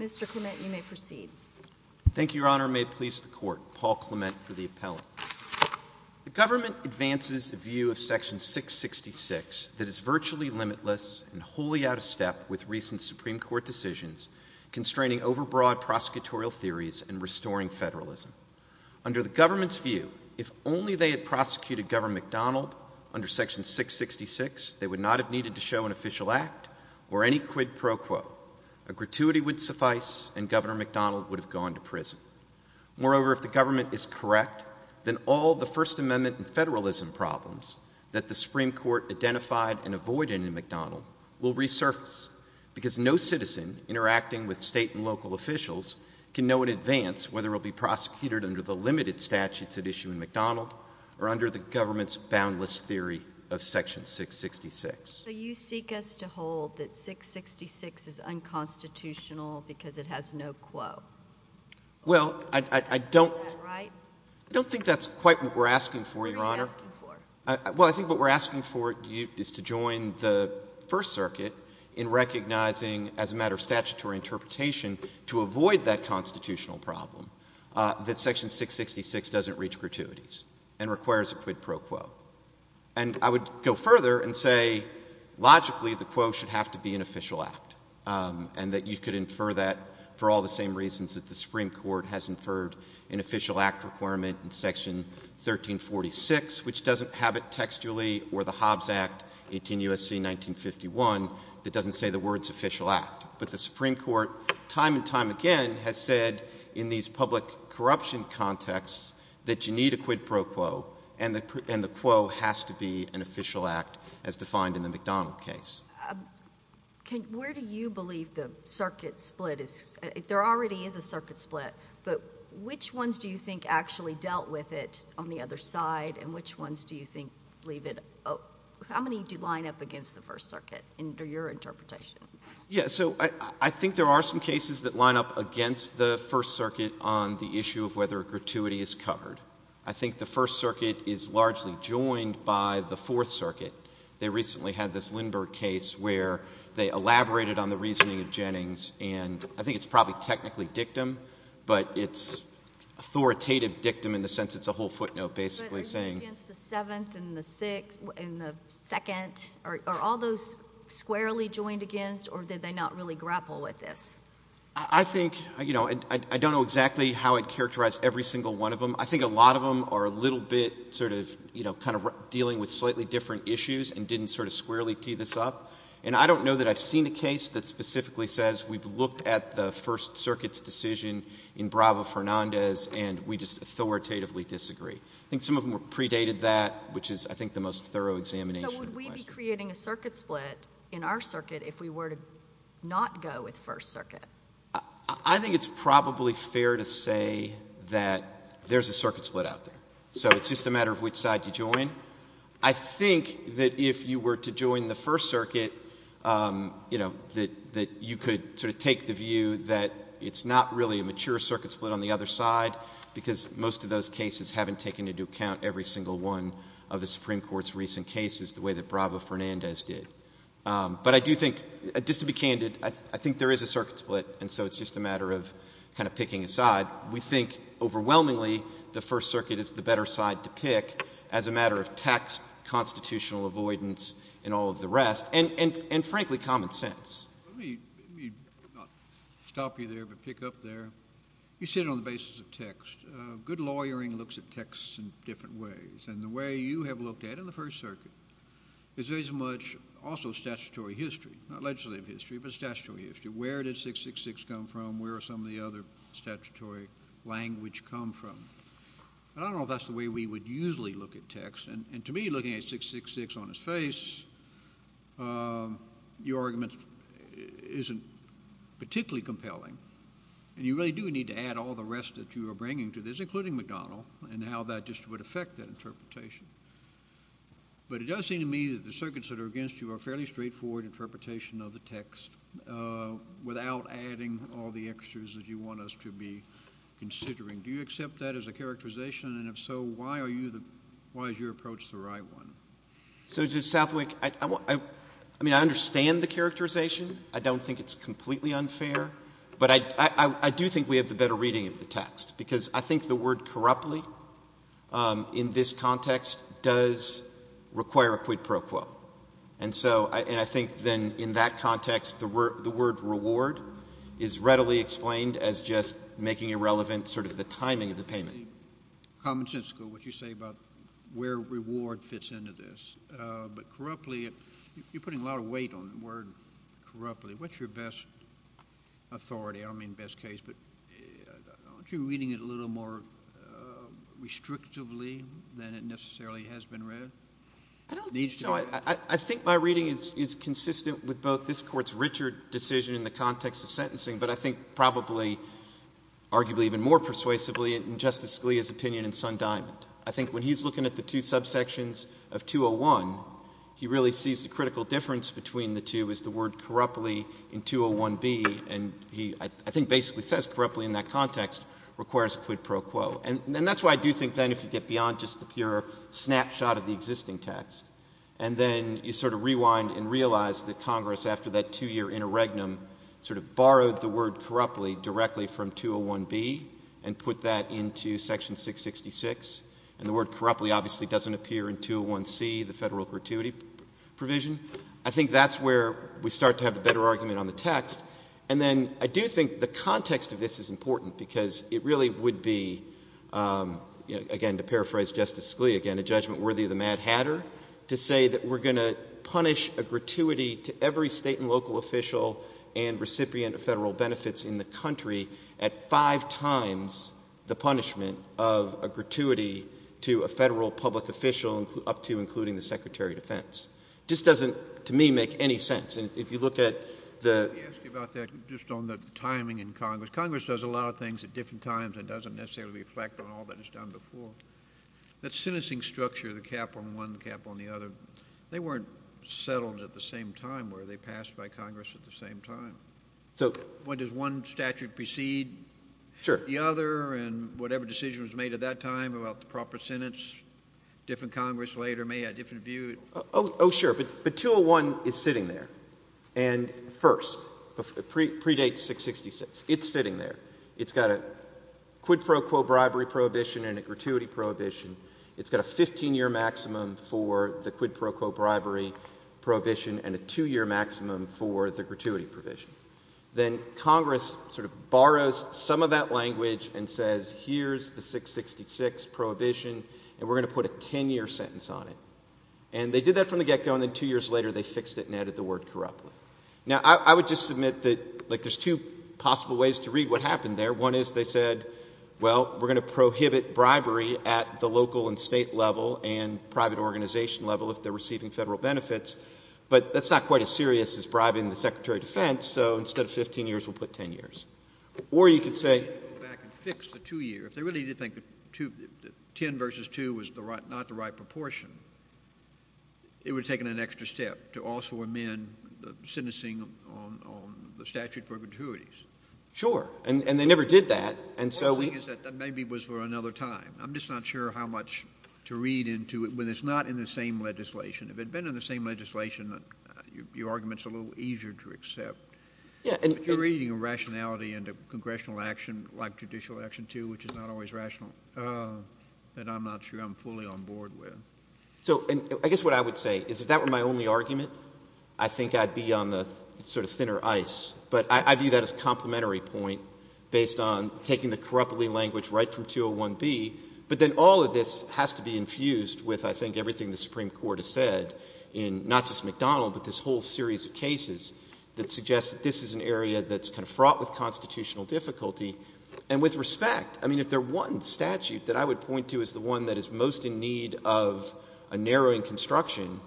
Mr. Clement, you may proceed. Governor, may it please the court, Paul Clement for the appellate. The government advances a view of Section 666 that is virtually limitless and wholly out of step with recent Supreme Court decisions constraining overbroad prosecutorial theories and restoring federalism. Under the government's view, if only they had prosecuted Governor McDonald under Section 666, they would not have needed to show an official act or any quid pro quo. A gratuity would suffice and Governor McDonald would have gone to prison. Moreover, if the government is correct, then all the First Amendment and federalism problems that the Supreme Court identified and avoided in McDonald will resurface because no citizen interacting with state and local officials can know in advance whether he'll be prosecuted under the limited statutes at issue in McDonald or under the government's boundless theory of Section 666. So you seek us to hold that 666 is unconstitutional because it has no quo? Well, I don't think that's quite what we're asking for, Your Honor. What are you asking for? Well, I think what we're asking for is to join the First Circuit in recognizing as a matter of statutory interpretation to avoid that constitutional problem that Section 666 doesn't reach gratuities and requires a quid pro quo. And I would go further and say logically the quo should have to be an official act and that you could infer that for all the same reasons that the Supreme Court has inferred an official act requirement in Section 1346, which doesn't have it textually, or the Hobbs Act 18 U.S.C. 1951 that doesn't say the words official act. But the Supreme Court time and time again has said in these public corruption contexts that you need a quid pro quo and the quo has to be an official act as defined in the McDonald case. Where do you believe the circuit split is? There already is a circuit split, but which ones do you think actually dealt with it on the other side and which ones do you think leave it? How many do line up against the First Circuit under your interpretation? Yeah, so I think there are some cases that line up against the First Circuit on the issue of whether a gratuity is covered. I think the First Circuit is largely joined by the Fourth Circuit. They recently had this Lindbergh case where they elaborated on the reasoning of Jennings and I think it's probably technically dictum, but it's authoritative dictum in the sense it's a whole footnote basically saying... But are you against the Seventh and the Sixth and the Second? Are all those squarely joined against or did they not really grapple with this? I think, you know, I don't know exactly how it characterized every single one of them. I think a lot of them are a little bit sort of, you know, kind of dealing with slightly different issues and didn't sort of squarely tee this up. And I don't know that I've seen a case that specifically says we've looked at the First Circuit's decision in Bravo-Fernandez and we just authoritatively disagree. I think some of them predated that, which is, I think, the most thorough examination. So would we be creating a circuit split in our circuit if we were to not go with First Circuit? I think it's probably fair to say that there's a circuit split out there. So it's just a matter of which side you join. I think that if you were to join the First Circuit, you know, that you could sort of take the view that it's not really a mature circuit split on the other side because most of those cases haven't taken into account every single one of the Supreme Court's recent cases the way that Bravo-Fernandez did. But I do think, just to be candid, I think there is a circuit split, and so it's just a matter of kind of picking a side. We think, overwhelmingly, the First Circuit is the better side to pick as a matter of text, constitutional avoidance, and all of the rest, and frankly, common sense. Let me not stop you there but pick up there. You said it on the basis of text. Good lawyering looks at texts in different ways, and the way you have looked at it in the First Circuit is very much also statutory history, not legislative history, but statutory history. Where did 666 come from? Where did some of the other statutory language come from? I don't know if that's the way we would usually look at text, and to me, looking at 666 on its face, your argument isn't particularly compelling, and you really do need to add all the rest that you are bringing to this, including McDonnell, and how that just would affect that interpretation. But it does seem to me that the circuits that are against you are fairly straightforward interpretation of the text without adding all the extras that you want us to be considering. Do you accept that as a characterization, and if so, why are you the — why is your approach the right one? So Judge Southwick, I mean, I understand the characterization. I don't think it's completely unfair, but I do think we have the better reading of the in this context does require a quid pro quo, and so — and I think, then, in that context, the word reward is readily explained as just making irrelevant sort of the timing of the payment. Common sensical, what you say about where reward fits into this, but corruptly — you're putting a lot of weight on the word corruptly. What's your best authority? I don't mean best case, but aren't you reading it a little more restrictively than it necessarily has been read? I don't — It needs to be. No, I think my reading is consistent with both this Court's Richard decision in the context of sentencing, but I think probably, arguably even more persuasively, in Justice Scalia's opinion in Sundiamond. I think when he's looking at the two subsections of 201, he really sees the critical difference between the two is the word corruptly in 201B, and he, I think, basically says corruptly in that context requires quid pro quo, and that's why I do think, then, if you get beyond just the pure snapshot of the existing text, and then you sort of rewind and realize that Congress, after that two-year interregnum, sort of borrowed the word corruptly directly from 201B and put that into Section 666, and the word corruptly obviously doesn't appear in 201C, the federal gratuity provision. I think that's where we start to have a better argument on the text. And then I do think the context of this is important because it really would be, again, to paraphrase Justice Scalia, again, a judgment worthy of the Mad Hatter, to say that we're going to punish a gratuity to every state and local official and recipient of federal benefits in the country at five times the punishment of a gratuity to a federal public official up to including the Secretary of Defense. Just doesn't, to me, make any sense. And if you look at the— Let me ask you about that, just on the timing in Congress. Congress does a lot of things at different times and doesn't necessarily reflect on all that it's done before. That sentencing structure, the cap on one, the cap on the other, they weren't settled at the same time were they passed by Congress at the same time. So— When does one statute precede the other, and whatever decision was made at that time about the proper sentence, different Congress later may have a different view. Oh, sure. But 201 is sitting there. And first, predates 666. It's sitting there. It's got a quid pro quo bribery prohibition and a gratuity prohibition. It's got a 15-year maximum for the quid pro quo bribery prohibition and a two-year maximum for the gratuity provision. Then Congress sort of borrows some of that language and says, here's the 666 prohibition, and we're going to put a 10-year sentence on it. And they did that from the get-go, and then two years later, they fixed it and added the word corruptly. Now, I would just submit that, like, there's two possible ways to read what happened there. One is they said, well, we're going to prohibit bribery at the local and state level and private organization level if they're receiving federal benefits, but that's not quite as serious as bribing the Secretary of Defense, so instead of 15 years, we'll put 10 years. Or you could say— Go back and fix the two-year. If they really did think the 10 versus 2 was not the right proportion, it would have taken an extra step to also amend the sentencing on the statute of perpetuities. Sure. And they never did that, and so— The only thing is that maybe it was for another time. I'm just not sure how much to read into it when it's not in the same legislation. If it had been in the same legislation, your argument's a little easier to accept. Yeah, and— If you're reading a rationality into congressional action, like judicial action, too, which is not always rational, then I'm not sure I'm fully on board with. So, I guess what I would say is if that were my only argument, I think I'd be on the sort of thinner ice, but I view that as a complementary point based on taking the corruptly language right from 201B, but then all of this has to be infused with, I think, everything the Supreme Court has said in not just McDonald, but this whole series of cases that suggests that this is an area that's kind of fraught with constitutional difficulty. And with respect, I mean, if there's one statute that I would point to as the one that is most in need of a narrowing construction,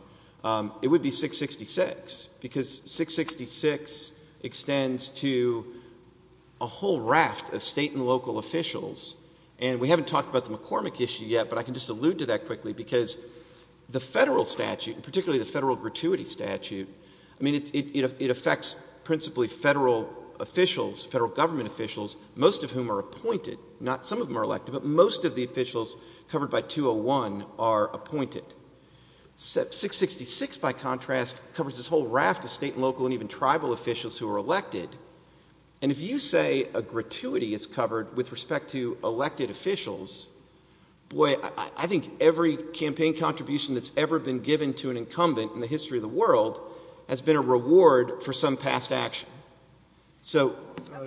it would be 666, because 666 extends to a whole raft of state and local officials. And we haven't talked about the McCormick issue yet, but I can just allude to that quickly, because the federal statute, and particularly the federal gratuity statute, I mean, it affects principally federal officials, federal government officials, most of whom are appointed. Not some of them are elected, but most of the officials covered by 201 are appointed. 666, by contrast, covers this whole raft of state and local and even tribal officials who are elected. And if you say a gratuity is covered with respect to elected officials, boy, I think every campaign contribution that's ever been given to an incumbent in the history of the world has been a reward for some past action. So...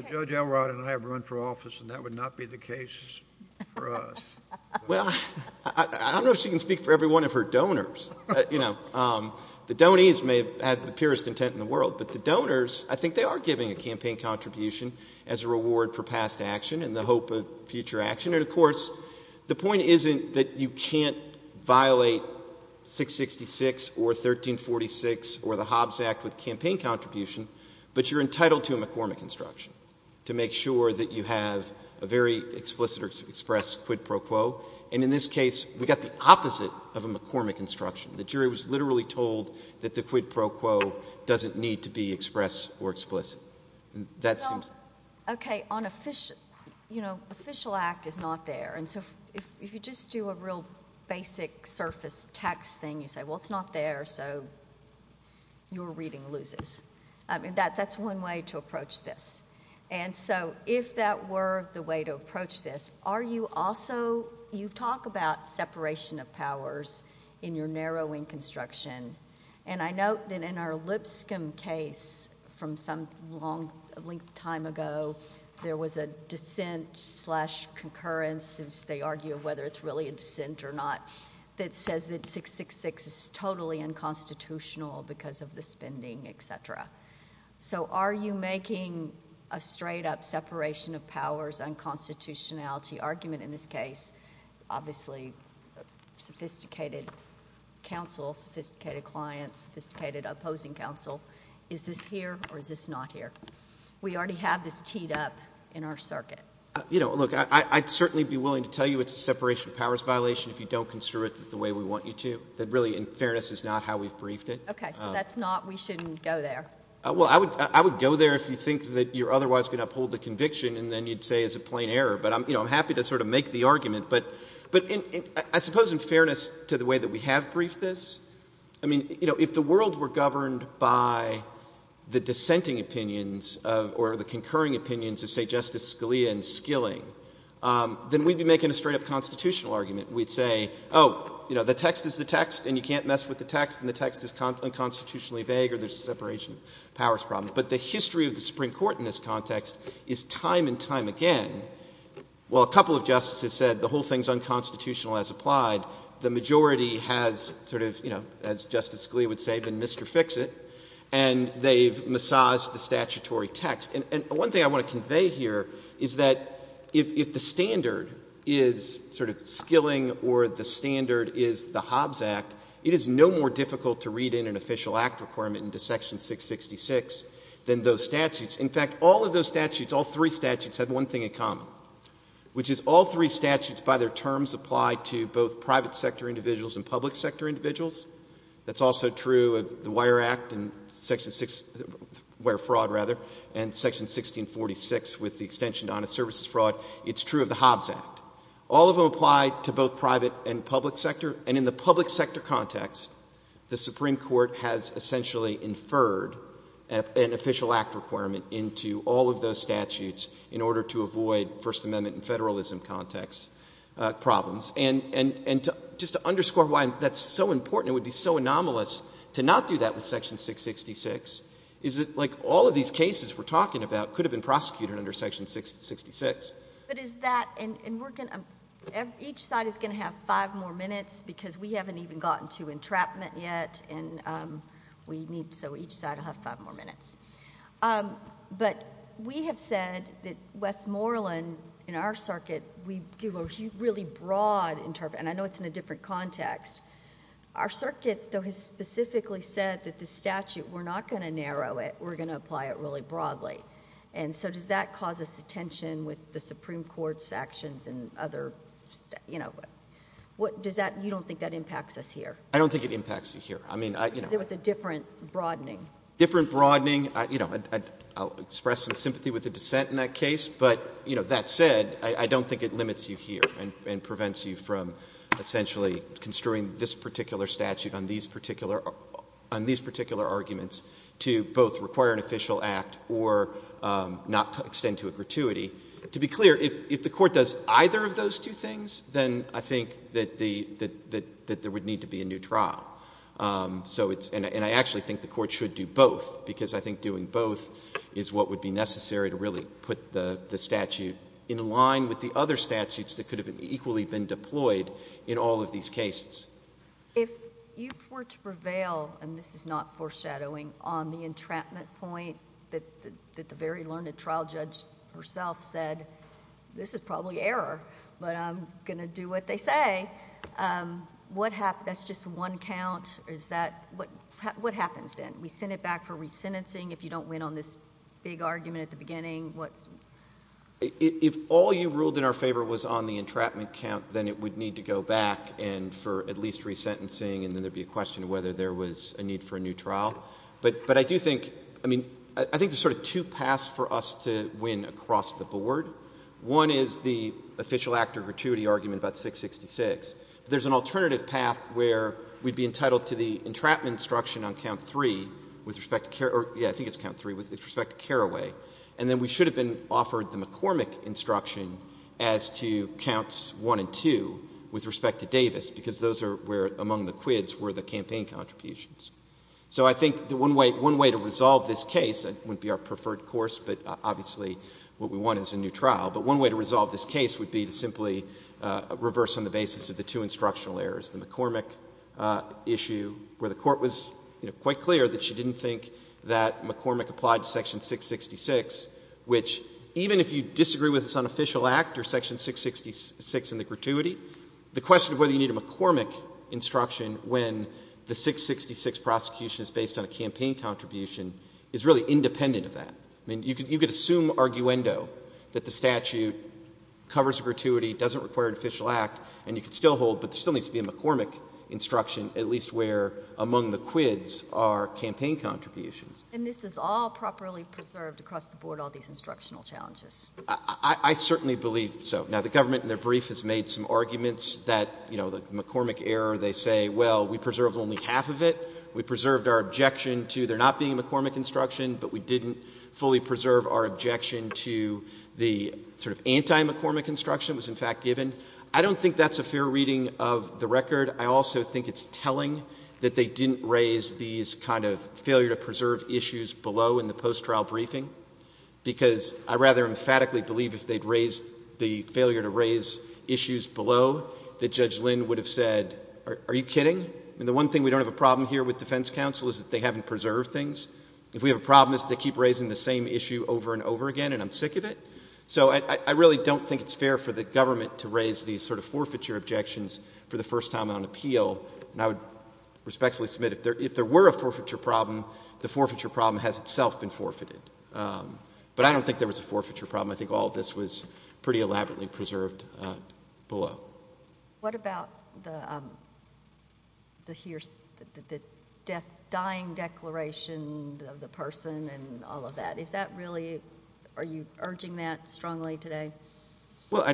Judge Elrod and I have run for office, and that would not be the case for us. Well, I don't know if she can speak for every one of her donors. You know, the donees may have had the purest intent in the world, but the donors, I think they are giving a campaign contribution as a reward for past action and the hope of future action. And of course, the point isn't that you can't violate 666 or 1346 or the Hobbs Act with campaign contribution, but you're entitled to a McCormick instruction to make sure that you have a very explicit or express quid pro quo. And in this case, we got the opposite of a McCormick instruction. The jury was literally told that the quid pro quo doesn't need to be expressed or explicit. That seems... OK, on official, you know, official act is not there. And so if you just do a real basic surface text thing, you say, well, it's not there, so your reading loses. I mean, that that's one way to approach this. And so if that were the way to approach this, are you also you talk about separation of powers in your narrowing construction? And I note that in our Lipscomb case from some long time ago, there was a dissent slash concurrence since they argue whether it's really a dissent or not. That says that 666 is totally unconstitutional because of the spending, et cetera. So are you making a straight up separation of powers unconstitutionality argument in this case? Obviously, sophisticated counsel, sophisticated clients, sophisticated opposing counsel. Is this here or is this not here? We already have this teed up in our circuit. You know, look, I'd certainly be willing to tell you it's a separation of powers violation if you don't construe it the way we want you to. That really, in fairness, is not how we've briefed it. OK, so that's not, we shouldn't go there. Well, I would go there if you think that you're otherwise going to uphold the conviction and then you'd say it's a plain error. But I'm happy to sort of make the argument. But I suppose in fairness to the way that we have briefed this, I mean, you know, if the world were governed by the dissenting opinions or the concurring opinions of, say, Justice Scalia and Skilling, then we'd be making a straight up constitutional argument. We'd say, oh, you know, the text is the text and you can't mess with the text. And the text is unconstitutionally vague or there's a separation of powers problem. But the history of the Supreme Court in this context is time and time again, while a couple of justices said the whole thing's unconstitutional as applied, the majority has sort of, you know, as Justice Scalia would say, been Mr. Fix-It. And they've massaged the statutory text. And one thing I want to convey here is that if the standard is sort of Skilling or the standard is the Hobbs Act, it is no more difficult to read in an official act requirement into Section 666 than those statutes. In fact, all of those statutes, all three statutes have one thing in common, which is all three statutes by their terms apply to both private sector individuals and public sector individuals. That's also true of the Wire Act and Section 6, Wire Fraud rather, and Section 1646 with the extension to Honest Services Fraud. It's true of the Hobbs Act. All of them apply to both private and public sector. And in the public sector context, the Supreme Court has essentially inferred an official act requirement into all of those statutes in order to avoid First Amendment and federalism context problems. And just to underscore why that's so important, it would be so anomalous to not do that with Section 666, is that like all of these cases we're talking about could have been prosecuted under Section 666. But is that, and we're going to, each side is going to have five more minutes because we haven't even gotten to entrapment yet, and we need, so each side will have five more minutes. But we have said that Westmoreland, in our circuit, we give a really broad interpret, and I know it's in a different context. Our circuit, though, has specifically said that the statute, we're not going to narrow it, we're going to apply it really broadly. And so does that cause us attention with the Supreme Court's actions and other, you know, does that, you don't think that impacts us here? I don't think it impacts you here. I mean, I, you know. Because it was a different broadening. Different broadening, you know, I'll express some sympathy with the dissent in that case, but, you know, that said, I don't think it limits you here and prevents you from essentially construing this particular statute on these particular arguments to both require an official act or not extend to a gratuity. To be clear, if the court does either of those two things, then I think that there would need to be a new trial. So it's, and I actually think the court should do both because I think doing both is what would be necessary to really put the statute in line with the other statutes that could have equally been deployed in all of these cases. If you were to prevail, and this is not foreshadowing, on the entrapment point that the very learned trial judge herself said, this is probably error, but I'm gonna do what they say. What hap, that's just one count. Is that, what happens then? We send it back for resentencing if you don't win on this big argument at the beginning? What's? If all you ruled in our favor was on the entrapment count, then it would need to go back and for at least resentencing, and then there'd be a question of whether there was a need for a new trial. But I do think, I mean, I think there's sort of two paths for us to win across the board. One is the official actor gratuity argument about 666. There's an alternative path where we'd be entitled to the entrapment instruction on count three with respect to, yeah, I think it's count three with respect to Carraway. And then we should have been offered the McCormick instruction as to counts one and two with respect to Davis, because those are where among the quids were the campaign contributions. So I think the one way to resolve this case, it wouldn't be our preferred course, but obviously what we want is a new trial. But one way to resolve this case would be to simply reverse on the basis of the two instructional errors, the McCormick issue where the court was quite clear that she didn't think that McCormick applied section 666, which even if you disagree with this unofficial act or section 666 in the gratuity, the question of whether you need a McCormick instruction when the 666 prosecution is based on a campaign contribution is really independent of that. I mean, you could assume arguendo that the statute covers a gratuity, doesn't require an official act, and you could still hold, but there still needs to be a McCormick instruction, at least where among the quids are campaign contributions. And this is all properly preserved across the board, all these instructional challenges. I certainly believe so. Now, the government in their brief has made some arguments that the McCormick error, they say, well, we preserved only half of it. We preserved our objection to there not being a McCormick instruction, but we didn't fully preserve our objection to the sort of anti-McCormick instruction was in fact given. I don't think that's a fair reading of the record. I also think it's telling that they didn't raise these kind of failure to preserve issues below in the post-trial briefing, because I rather emphatically believe if they'd raised the failure to raise issues below that Judge Lynn would have said, are you kidding? And the one thing we don't have a problem here with defense counsel is that they haven't preserved things. If we have a problem is they keep raising the same issue over and over again, and I'm sick of it. So I really don't think it's fair for the government to raise these sort of forfeiture objections for the first time on appeal. And I would respectfully submit if there were a forfeiture problem, the forfeiture problem has itself been forfeited. But I don't think there was a forfeiture problem. I think all of this was pretty elaborately preserved below. What about the dying declaration of the person and all of that? Is that really, are you urging that strongly today? Well,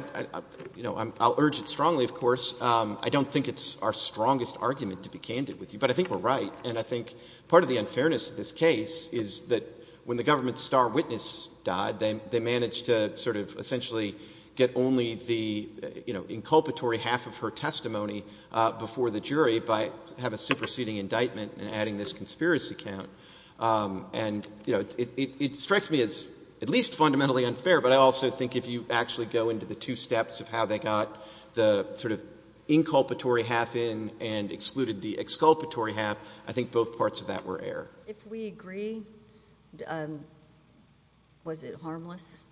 I'll urge it strongly, of course. I don't think it's our strongest argument to be candid with you, but I think we're right. And I think part of the unfairness of this case is that when the government's star witness died, they managed to sort of essentially get only the inculpatory half of her testimony before the jury by have a superseding indictment and adding this conspiracy count. And it strikes me as at least fundamentally unfair, but I also think if you actually go into the two steps of how they got the sort of inculpatory half in and excluded the exculpatory half, I think both parts of that were error. If we agree, was it harmless?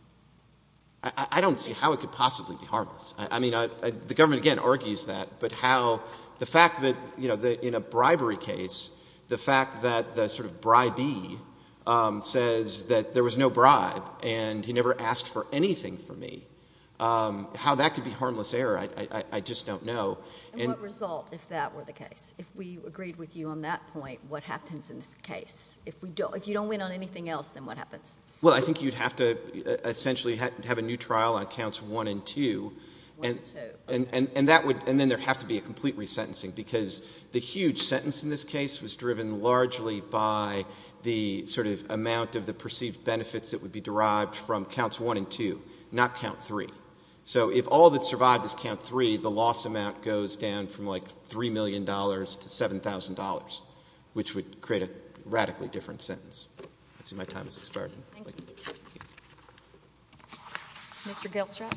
I don't see how it could possibly be harmless. I mean, the government, again, argues that, but how the fact that in a bribery case, the fact that the sort of bribee says that there was no bribe and he never asked for anything from me, how that could be harmless error, I just don't know. And what result if that were the case? If we agreed with you on that point, what happens in this case? If you don't win on anything else, then what happens? Well, I think you'd have to essentially have a new trial on counts one and two. One and two. And then there'd have to be a complete resentencing because the huge sentence in this case was driven largely by the sort of amount of the perceived benefits that would be derived from counts one and two, not count three. So if all that survived is count three, the loss amount goes down from like $3 million to $7,000. Which would create a radically different sentence. Let's see, my time has expired. Thank you. Mr. Gilstrap.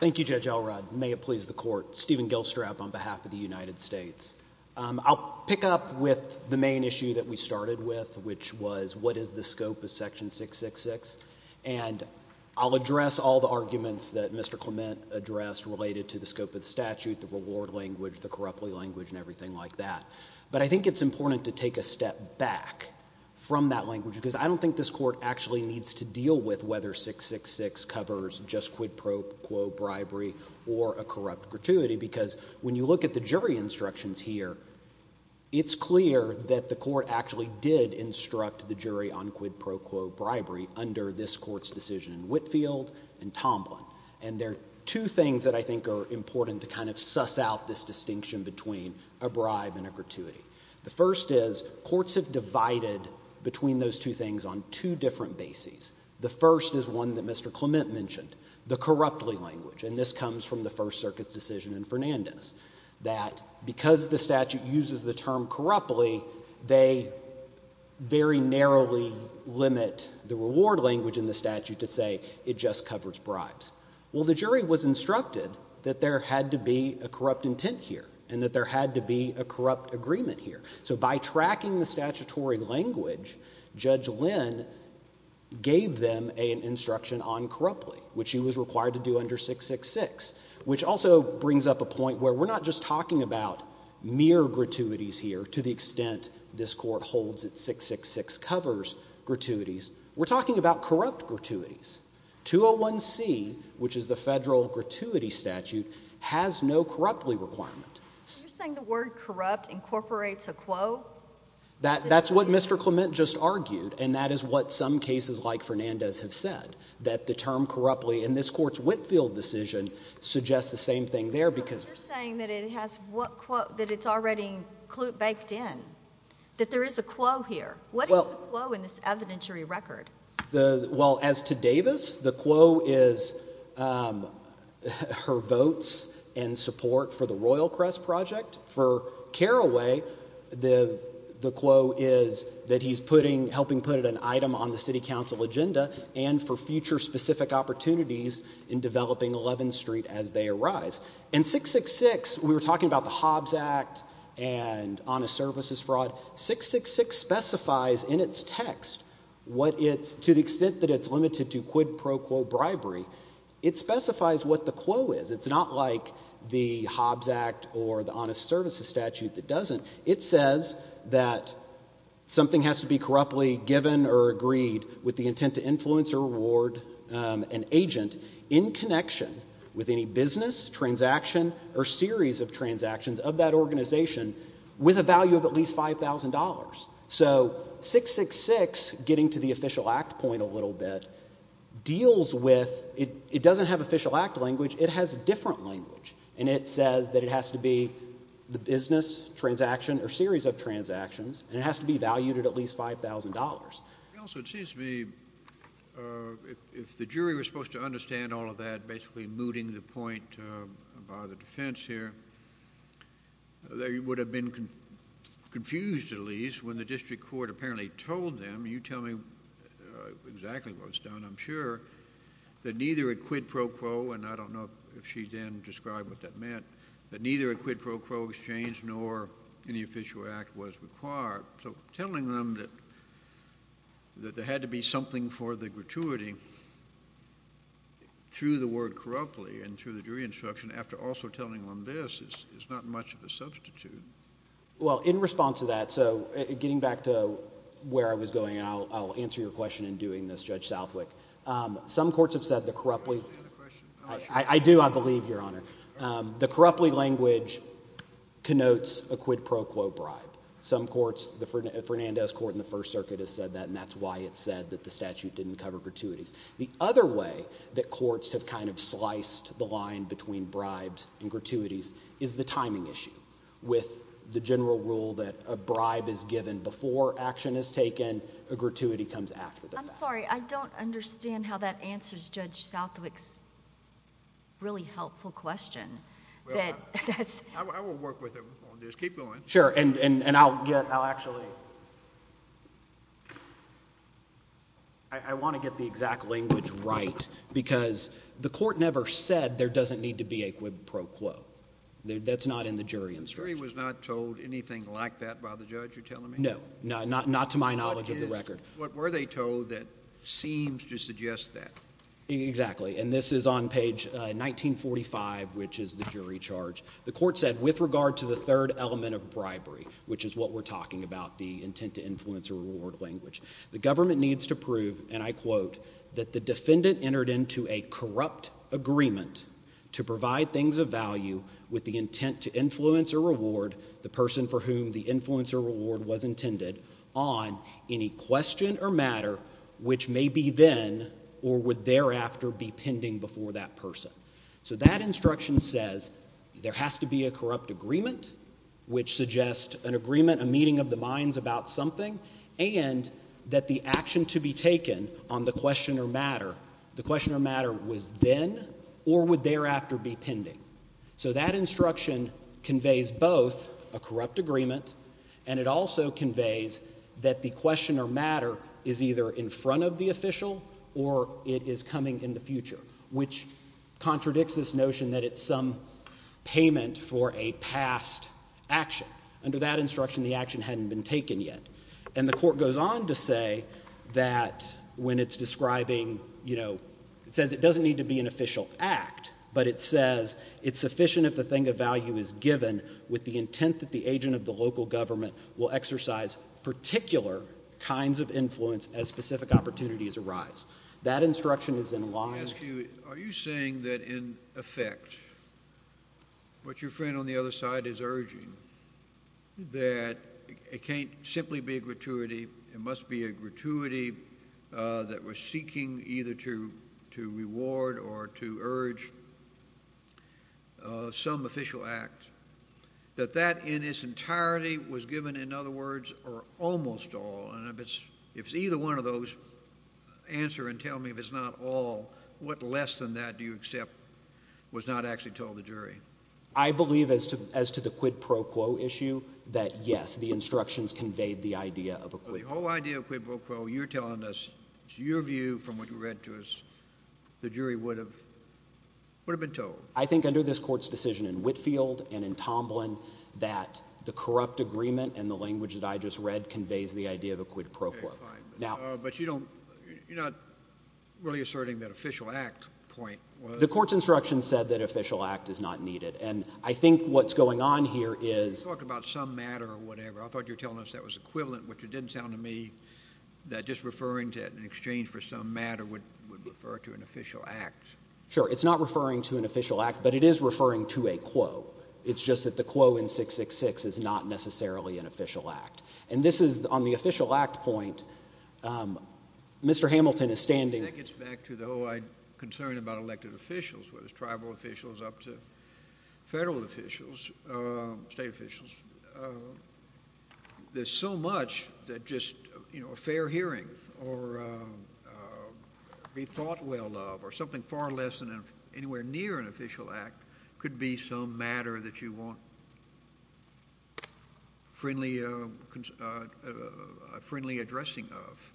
Thank you, Judge Elrod. May it please the court. Stephen Gilstrap on behalf of the United States. I'll pick up with the main issue that we started with, which was what is the scope of section 666? And I'll address all the arguments that Mr. Clement addressed related to the scope of the statute, the reward language, the corruptly language and everything like that. But I think it's important to take a step back from that language because I don't think this court actually needs to deal with whether 666 covers just quid pro quo bribery or a corrupt gratuity because when you look at the jury instructions here, it's clear that the court actually did instruct the jury on quid pro quo bribery under this court's decision in Whitfield and Tomlin. And there are two things that I think are important to kind of suss out this distinction between a bribe and a gratuity. The first is courts have divided between those two things on two different bases. The first is one that Mr. Clement mentioned, the corruptly language. And this comes from the First Circuit's decision in Fernandez that because the statute uses the term corruptly, they very narrowly limit the reward language in the statute to say it just covers bribes. Well, the jury was instructed that there had to be a corrupt intent here and that there had to be a corrupt agreement here. So by tracking the statutory language, Judge Lynn gave them an instruction on corruptly, which she was required to do under 666, which also brings up a point where we're not just talking about mere gratuities here to the extent this court holds it 666 covers gratuities. We're talking about corrupt gratuities. 201C, which is the federal gratuity statute, has no corruptly requirement. So you're saying the word corrupt incorporates a quote? That's what Mr. Clement just argued, and that is what some cases like Fernandez have said, that the term corruptly in this court's Whitfield decision suggests the same thing there because. But you're saying that it has what quote, that it's already baked in, that there is a quo here. What is the quo in this evidentiary record? Well, as to Davis, the quo is her votes and support for the Royal Crest Project. For Carraway, the quo is that he's helping put an item on the city council agenda and for future specific opportunities in developing 11th Street as they arise. In 666, we were talking about the Hobbs Act and honest services fraud. 666 specifies in its text what it's, to the extent that it's limited to quid pro quo bribery, it specifies what the quo is. It's not like the Hobbs Act or the honest services statute that doesn't. It says that something has to be corruptly given or agreed with the intent to influence or reward an agent in connection with any business, transaction, or series of transactions of that organization with a value of at least $5,000. So 666, getting to the official act point a little bit, deals with, it doesn't have official act language, it has a different language. And it says that it has to be the business, transaction, or series of transactions, and it has to be valued at at least $5,000. Also, it seems to me, if the jury were supposed to understand all of that, basically mooting the point about the defense here, they would have been confused, at least, when the district court apparently told them, you tell me exactly what was done, I'm sure, that neither a quid pro quo, and I don't know if she then described what that meant, that neither a quid pro quo exchange nor any official act was required. So telling them that there had to be something for the gratuity through the word corruptly and through the jury instruction, after also telling them this, is not much of a substitute. Well, in response to that, so getting back to where I was going, and I'll answer your question in doing this, Judge Southwick, some courts have said the corruptly, I do, I believe, Your Honor, the corruptly language connotes a quid pro quo bribe. Some courts, the Fernandez Court in the First Circuit has said that, and that's why it said that the statute didn't cover gratuities. The other way that courts have kind of sliced the line between bribes and gratuities is the timing issue. With the general rule that a bribe is given before action is taken, a gratuity comes after the fact. I'm sorry, I don't understand how that answers Judge Southwick's really helpful question. I will work with him on this, keep going. Sure, and I'll get, I'll actually, so, I wanna get the exact language right because the court never said there doesn't need to be a quid pro quo. That's not in the jury instruction. The jury was not told anything like that by the judge, you're telling me? No, not to my knowledge of the record. What were they told that seems to suggest that? Exactly, and this is on page 1945, which is the jury charge. The court said, with regard to the third element of bribery, which is what we're talking about, the intent to influence or reward language, the government needs to prove, and I quote, that the defendant entered into a corrupt agreement to provide things of value with the intent to influence or reward the person for whom the influence or reward was intended on any question or matter which may be then or would thereafter be pending before that person. So that instruction says there has to be a corrupt agreement which suggests an agreement, a meeting of the minds about something, and that the action to be taken on the question or matter, the question or matter was then or would thereafter be pending. So that instruction conveys both a corrupt agreement and it also conveys that the question or matter is either in front of the official or it is coming in the future, which contradicts this notion that it's some payment for a past action. Under that instruction, the action hadn't been taken yet. And the court goes on to say that when it's describing, you know, it says it doesn't need to be an official act, but it says it's sufficient if the thing of value is given with the intent that the agent of the local government will exercise particular kinds of influence as specific opportunities arise. That instruction is in line. Are you saying that in effect, what your friend on the other side is urging, that it can't simply be a gratuity, it must be a gratuity that we're seeking either to reward or to urge some official act, that that in its entirety was given, in other words, or almost all, and if it's either one of those, answer and tell me if it's not all, what less than that do you accept was not actually told the jury? I believe as to the quid pro quo issue, that yes, the instructions conveyed the idea of a quid pro quo. The whole idea of quid pro quo, you're telling us, it's your view from what you read to us, the jury would have been told. I think under this court's decision in Whitefield and in Tomlin, that the corrupt agreement and the language that I just read conveys the idea of a quid pro quo. But you're not really asserting that official act point. The court's instruction said that official act is not needed, and I think what's going on here is... You talked about some matter or whatever, I thought you were telling us that was equivalent, which it didn't sound to me that just referring to it in exchange for some matter would refer to an official act. Sure, it's not referring to an official act, but it is referring to a quo. It's just that the quo in 666 is not necessarily an official act, and this is on the official act point. Mr. Hamilton is standing... That gets back to the whole concern about elected officials, whether it's tribal officials up to federal officials, state officials. There's so much that just a fair hearing or be thought well of or something far less than anywhere near an official act could be some matter that you want friendly consideration. A friendly addressing of.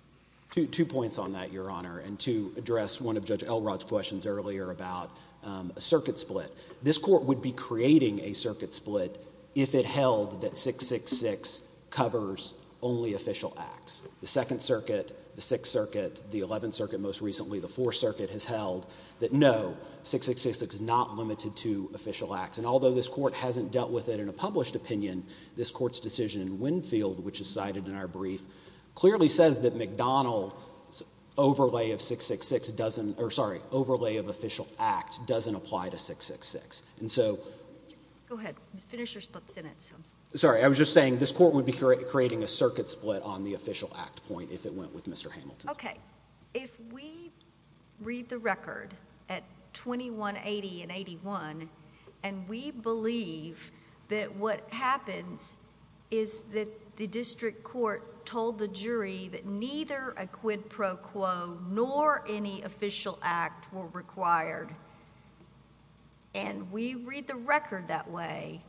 Two points on that, Your Honor, and to address one of Judge Elrod's questions earlier about a circuit split. This court would be creating a circuit split if it held that 666 covers only official acts. The Second Circuit, the Sixth Circuit, the Eleventh Circuit most recently, the Fourth Circuit has held that no, 666 is not limited to official acts, and although this court hasn't dealt with it in a published opinion, this court's decision in Winfield, which is cited in our brief, clearly says that McDonald's overlay of 666 doesn't, or sorry, overlay of official act doesn't apply to 666. And so... Go ahead, finish your split sentence. Sorry, I was just saying this court would be creating a circuit split on the official act point if it went with Mr. Hamilton. Okay, if we read the record at 2180 and 81, and we believe that what happens is that the district court told the jury that neither a quid pro quo nor any official act were required, and we read the record that way,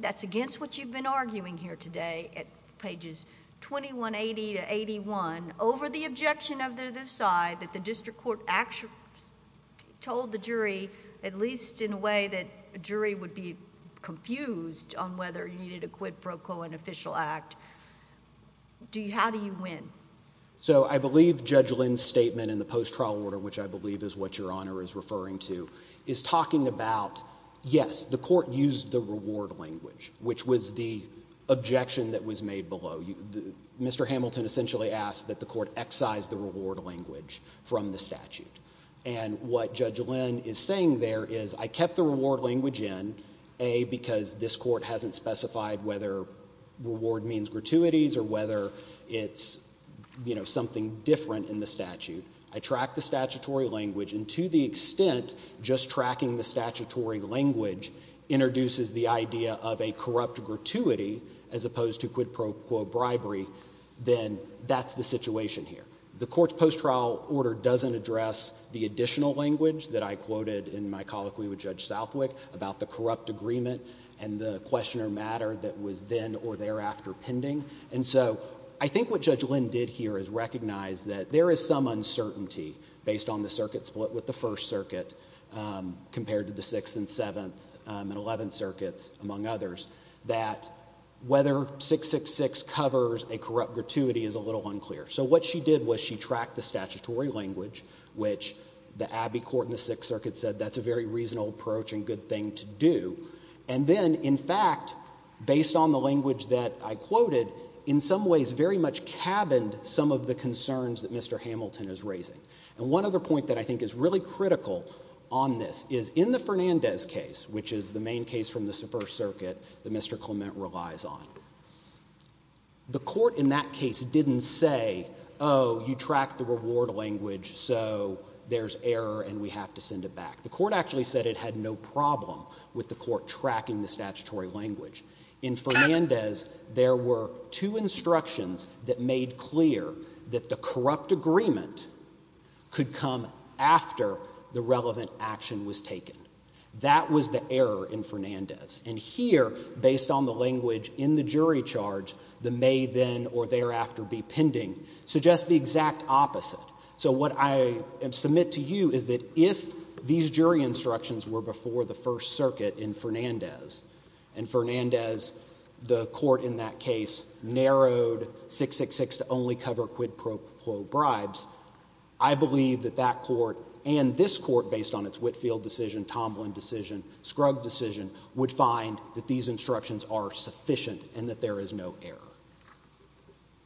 that's against what you've been arguing here today at pages 2180 to 81, over the objection of the side that the district court actually told the jury, at least in a way that a jury would be confused on whether you needed a quid pro quo and official act, how do you win? So I believe Judge Lynn's statement in the post-trial order, which I believe is what Your Honor is referring to, is talking about, yes, the court used the reward language, which was the objection that was made below. Mr. Hamilton essentially asked that the court excise the reward language from the statute, and what Judge Lynn is saying there is I kept the reward language in, A, because this court hasn't specified whether reward means gratuities or whether it's something different in the statute. I tracked the statutory language, and to the extent just tracking the statutory language introduces the idea of a corrupt gratuity as opposed to quid pro quo bribery, then that's the situation here. The court's post-trial order doesn't address the additional language that I quoted in my colloquy with Judge Southwick about the corrupt agreement and the questioner matter that was then or thereafter pending. And so I think what Judge Lynn did here is recognize that there is some uncertainty based on the circuit split with the First Circuit compared to the Sixth and Seventh and Eleventh Circuits, among others, that whether 666 covers a corrupt gratuity is a little unclear. So what she did was she tracked the statutory language, which the Abbey Court in the Sixth Circuit said that's a very reasonable approach and good thing to do. And then, in fact, based on the language that I quoted, in some ways very much cabined some of the concerns that Mr. Hamilton is raising. And one other point that I think is really critical on this is in the Fernandez case, which is the main case from the First Circuit that Mr. Clement relies on. The court in that case didn't say, oh, you tracked the reward language, so there's error and we have to send it back. The court actually said it had no problem with the court tracking the statutory language. In Fernandez, there were two instructions that made clear that the corrupt agreement That was the error in Fernandez. And here, based on the language in the jury charge, the may then or thereafter be pending suggests the exact opposite. So what I submit to you is that if these jury instructions were before the First Circuit in Fernandez, and Fernandez, the court in that case, narrowed 666 to only cover quid pro quo bribes, I believe that that court and this court, based on its Whitfield decision, Tomlin decision, Skrug decision, would find that these instructions are sufficient and that there is no error.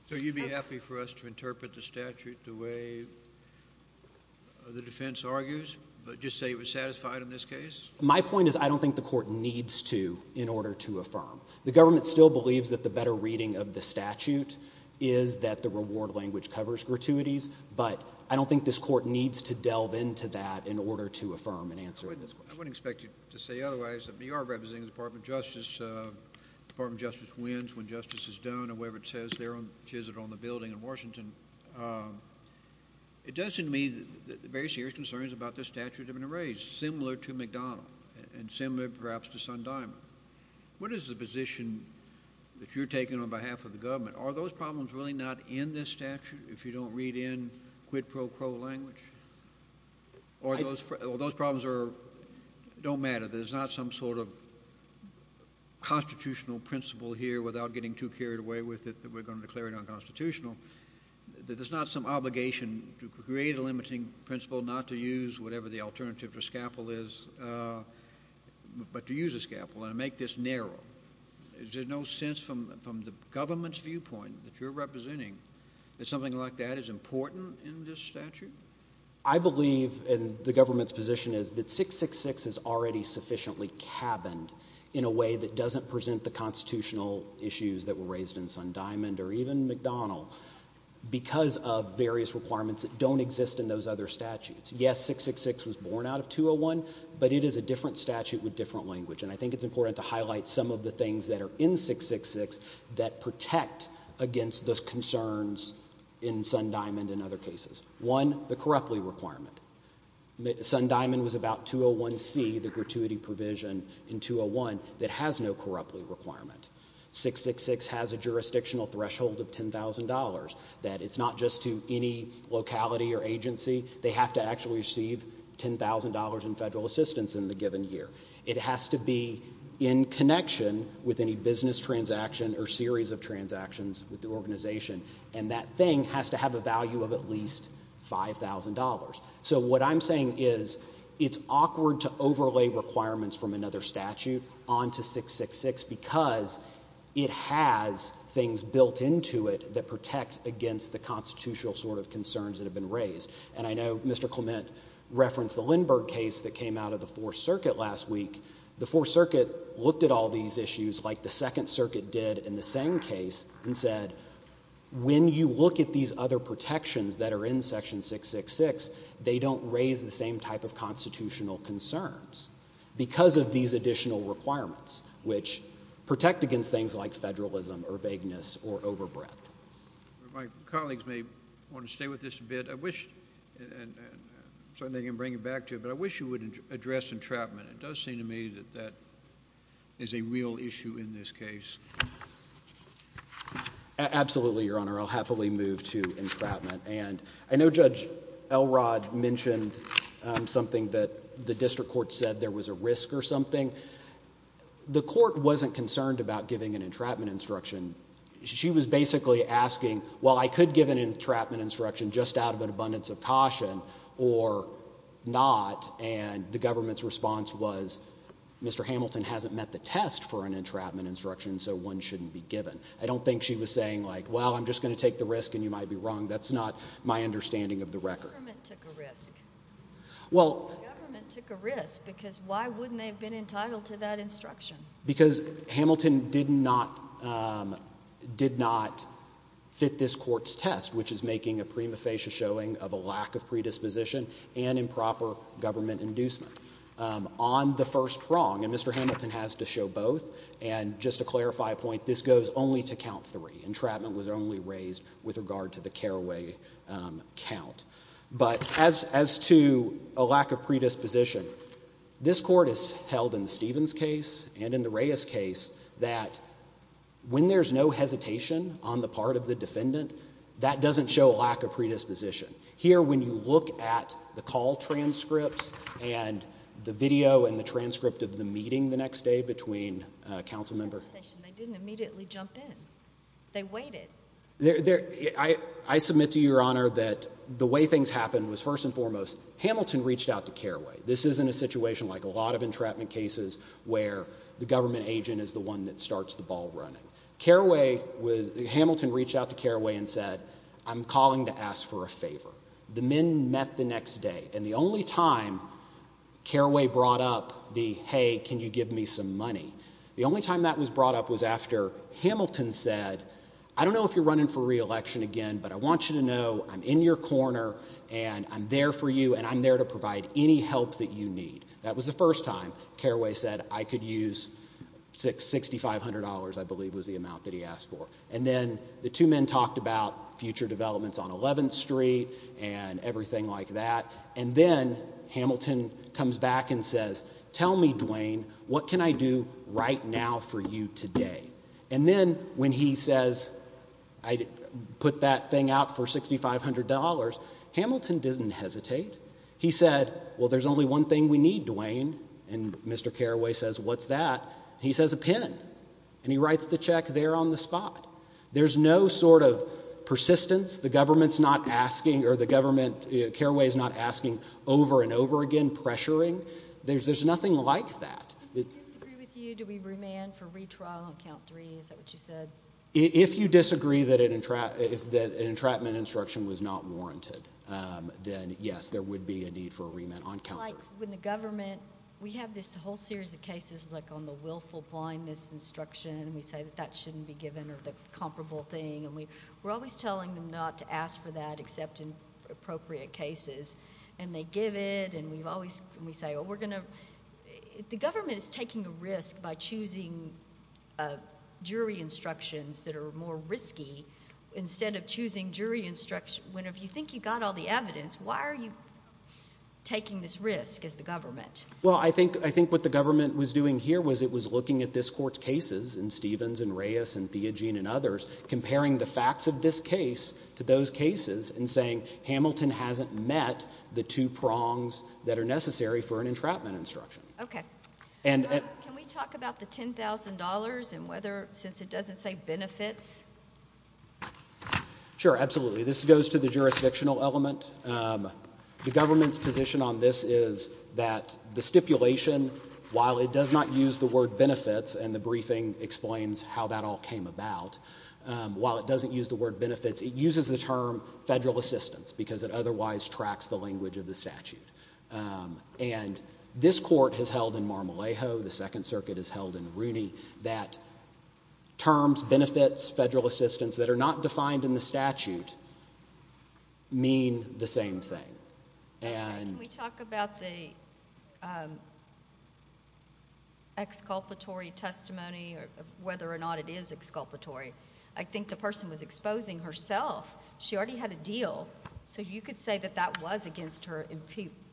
So you'd be happy for us to interpret the statute the way the defense argues, but just say it was satisfied in this case? My point is I don't think the court needs to in order to affirm. The government still believes that the better reading of the statute is that the reward language needs to delve into that in order to affirm and answer this question. I wouldn't expect you to say otherwise, but you are representing the Department of Justice. Department of Justice wins when justice is done, or whatever it says there, which is it on the building in Washington. It does seem to me that the very serious concerns about this statute have been raised, similar to McDonnell, and similar perhaps to Sundyman. What is the position that you're taking on behalf of the government? Are those problems really not in this statute if you don't read in quid pro quo language? Or those problems don't matter? There's not some sort of constitutional principle here without getting too carried away with it that we're gonna declare it unconstitutional. There's not some obligation to create a limiting principle not to use whatever the alternative to scalpel is, but to use a scalpel and make this narrow. Is there no sense from the government's viewpoint that you're representing that something like that is important in this statute? I believe, and the government's position is, that 666 is already sufficiently cabined in a way that doesn't present the constitutional issues that were raised in Sundyman or even McDonnell because of various requirements that don't exist in those other statutes. Yes, 666 was born out of 201, but it is a different statute with different language. And I think it's important to highlight some of the things that are in 666 that protect against those concerns in Sundyman and other cases. One, the corruptly requirement. Sundyman was about 201C, the gratuity provision in 201 that has no corruptly requirement. 666 has a jurisdictional threshold of $10,000 that it's not just to any locality or agency. They have to actually receive $10,000 in federal assistance in the given year. It has to be in connection with any business transaction or series of transactions with the organization. And that thing has to have a value of at least $5,000. So what I'm saying is it's awkward to overlay requirements from another statute onto 666 because it has things built into it that protect against the constitutional sort of concerns that have been raised. And I know Mr. Clement referenced the Lindbergh case that came out of the Fourth Circuit last week. The Fourth Circuit looked at all these issues like the Second Circuit did in the same case and said, when you look at these other protections that are in section 666, they don't raise the same type of constitutional concerns because of these additional requirements which protect against things like federalism or vagueness or overbreadth. My colleagues may want to stay with this a bit. I wish, and I'm certain they can bring it back to you, but I wish you would address entrapment. It does seem to me that that is a real issue in this case. Absolutely, Your Honor. I'll happily move to entrapment. And I know Judge Elrod mentioned something that the district court said there was a risk or something. The court wasn't concerned about giving an entrapment instruction. She was basically asking, well, I could give an entrapment instruction just out of an abundance of caution or not. And the government's response was, for an entrapment instruction, so one shouldn't be given. I don't think she was saying like, well, I'm just gonna take the risk and you might be wrong. That's not my understanding of the record. The government took a risk. Well- The government took a risk because why wouldn't they have been entitled to that instruction? Because Hamilton did not fit this court's test, which is making a prima facie showing of a lack of predisposition and improper government inducement. On the first prong, and Mr. Hamilton has to show both, and just to clarify a point, this goes only to count three. Entrapment was only raised with regard to the Carraway count. But as to a lack of predisposition, this court has held in the Stevens case and in the Reyes case that when there's no hesitation on the part of the defendant, that doesn't show a lack of predisposition. Here, when you look at the call transcripts and the video and the transcript of the meeting the next day between a council member- They didn't immediately jump in. They waited. I submit to your honor that the way things happened was first and foremost, Hamilton reached out to Carraway. This isn't a situation like a lot of entrapment cases where the government agent is the one that starts the ball running. Carraway was, Hamilton reached out to Carraway and said, I'm calling to ask for a favor. The men met the next day. And the only time Carraway brought up the, hey, can you give me some money? The only time that was brought up was after Hamilton said, I don't know if you're running for reelection again, but I want you to know I'm in your corner and I'm there for you. And I'm there to provide any help that you need. That was the first time Carraway said I could use $6,500, I believe was the amount that he asked for. And then the two men talked about future developments on 11th Street and everything like that. And then Hamilton comes back and says, tell me, Duane, what can I do right now for you today? And then when he says, I put that thing out for $6,500, Hamilton doesn't hesitate. He said, well, there's only one thing we need, Duane. And Mr. Carraway says, what's that? He says, a pin. And he writes the check there on the spot. There's no sort of persistence. The government's not asking, or the government, Carraway's not asking over and over again, pressuring. There's nothing like that. I disagree with you. Do we remand for retrial on count three? Is that what you said? If you disagree that an entrapment instruction was not warranted, then yes, there would be a need for a remand on count three. It's like when the government, we have this whole series of cases like on the willful blindness instruction. We say that that shouldn't be given or the comparable thing. And we're always telling them not to ask for that except in appropriate cases. And they give it, and we say, oh, we're gonna, the government is taking a risk by choosing jury instructions that are more risky. Instead of choosing jury instruction, when if you think you got all the evidence, why are you taking this risk as the government? Well, I think what the government was doing here was it was looking at this court's cases and Stevens and Reyes and Theogene and others, comparing the facts of this case to those cases and saying, Hamilton hasn't met the two prongs that are necessary for an entrapment instruction. Okay, can we talk about the $10,000 and whether, since it doesn't say benefits? Sure, absolutely. This goes to the jurisdictional element. The government's position on this is that the stipulation, while it does not use the word benefits, and the briefing explains how that all came about, while it doesn't use the word benefits, it uses the term federal assistance because it otherwise tracks the language of the statute. And this court has held in Mar-a-Lago, the Second Circuit has held in Rooney that terms, benefits, federal assistance that are not defined in the statute mean the same thing. And- Can we talk about the exculpatory testimony or whether or not it is exculpatory? I think the person was exposing herself. She already had a deal. So you could say that that was against her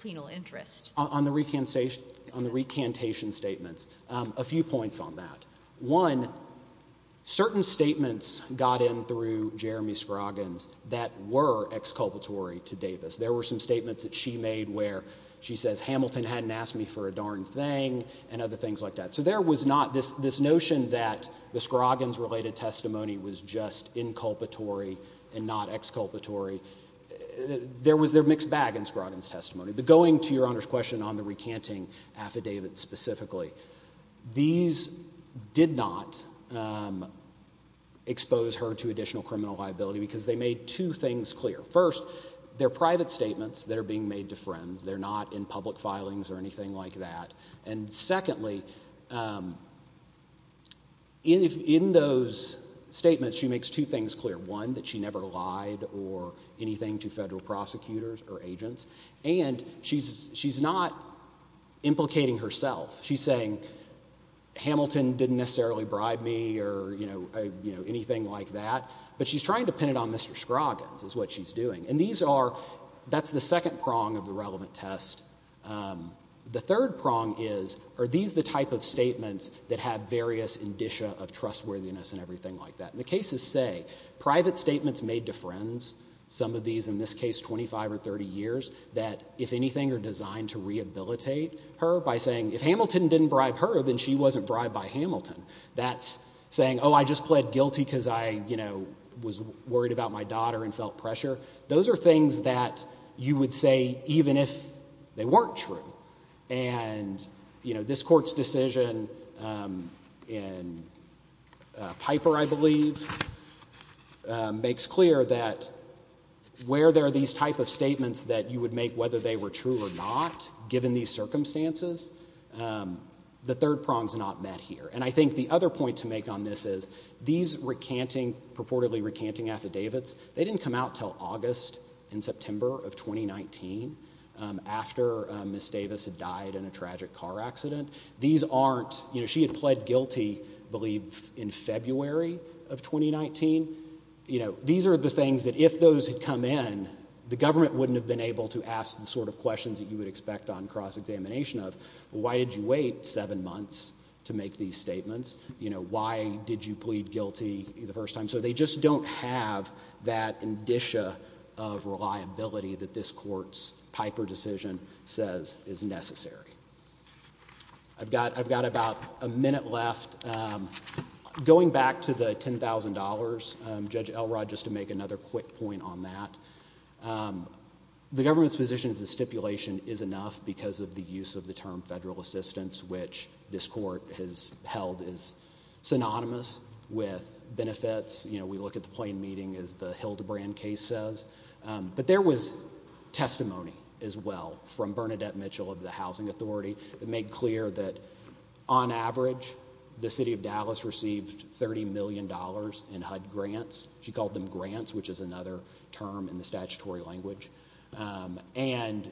penal interest. On the recantation statements, a few points on that. One, certain statements got in through Jeremy Scroggins that were exculpatory to Davis. There were some statements that she made where she says, Hamilton hadn't asked me for a darn thing and other things like that. So there was not this notion that the Scroggins related testimony was just inculpatory and not exculpatory. There was their mixed bag in Scroggins testimony. But going to your Honor's question on the recanting affidavit specifically, these did not expose her to additional criminal liability because they made two things clear. First, they're private statements that are being made to friends. They're not in public filings or anything like that. And secondly, in those statements, she makes two things clear. One, that she never lied or anything to federal prosecutors or agents. And she's not implicating herself. She's saying, Hamilton didn't necessarily bribe me or anything like that. But she's trying to pin it on Mr. Scroggins is what she's doing. And these are, that's the second prong of the relevant test. The third prong is, are these the type of statements that have various indicia of trustworthiness and everything like that? And the cases say, private statements made to friends, some of these, in this case, 25 or 30 years, that, if anything, are designed to rehabilitate her by saying, if Hamilton didn't bribe her, then she wasn't bribed by Hamilton. That's saying, oh, I just pled guilty because I was worried about my daughter and felt pressure. Those are things that you would say even if they weren't true. And this court's decision in Piper, I believe, makes clear that where there are these type of statements that you would make whether they were true or not, given these circumstances, the third prong's not met here. And I think the other point to make on this is, these purportedly recanting affidavits, they didn't come out till August and September of 2019 after Ms. Davis had died in a tragic car accident. These aren't, she had pled guilty, I believe, in February of 2019. These are the things that, if those had come in, the government wouldn't have been able to ask the sort of questions that you would expect on cross-examination of, why did you wait seven months to make these statements? Why did you plead guilty the first time? So they just don't have that indicia of reliability that this court's Piper decision says is necessary. I've got about a minute left. Going back to the $10,000, Judge Elrod, just to make another quick point on that, the government's position is the stipulation is enough because of the use of the term federal assistance, which this court has held is synonymous with benefits we look at the Plain Meeting as the Hildebrand case says, but there was testimony as well from Bernadette Mitchell of the Housing Authority that made clear that, on average, the city of Dallas received $30 million in HUD grants, she called them grants, which is another term in the statutory language, and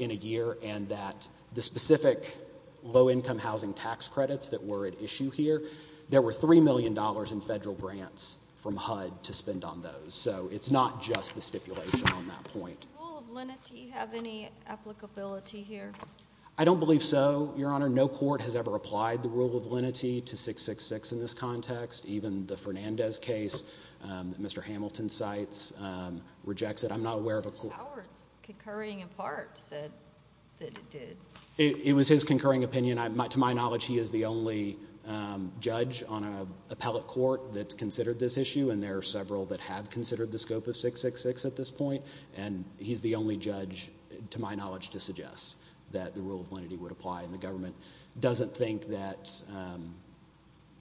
in a year, and that the specific low-income housing tax credits that were at issue here, there were $3 million in federal grants from HUD to spend on those, so it's not just the stipulation on that point. Does the rule of lenity have any applicability here? I don't believe so, Your Honor. No court has ever applied the rule of lenity to 666 in this context, even the Fernandez case that Mr. Hamilton cites rejects it. I'm not aware of a court. Judge Howard's concurring in part said that it did. It was his concurring opinion. To my knowledge, he is the only judge on an appellate court that's considered this issue, and there are several that have considered the scope of 666 at this point, and he's the only judge, to my knowledge, to suggest that the rule of lenity would apply, and the government doesn't think that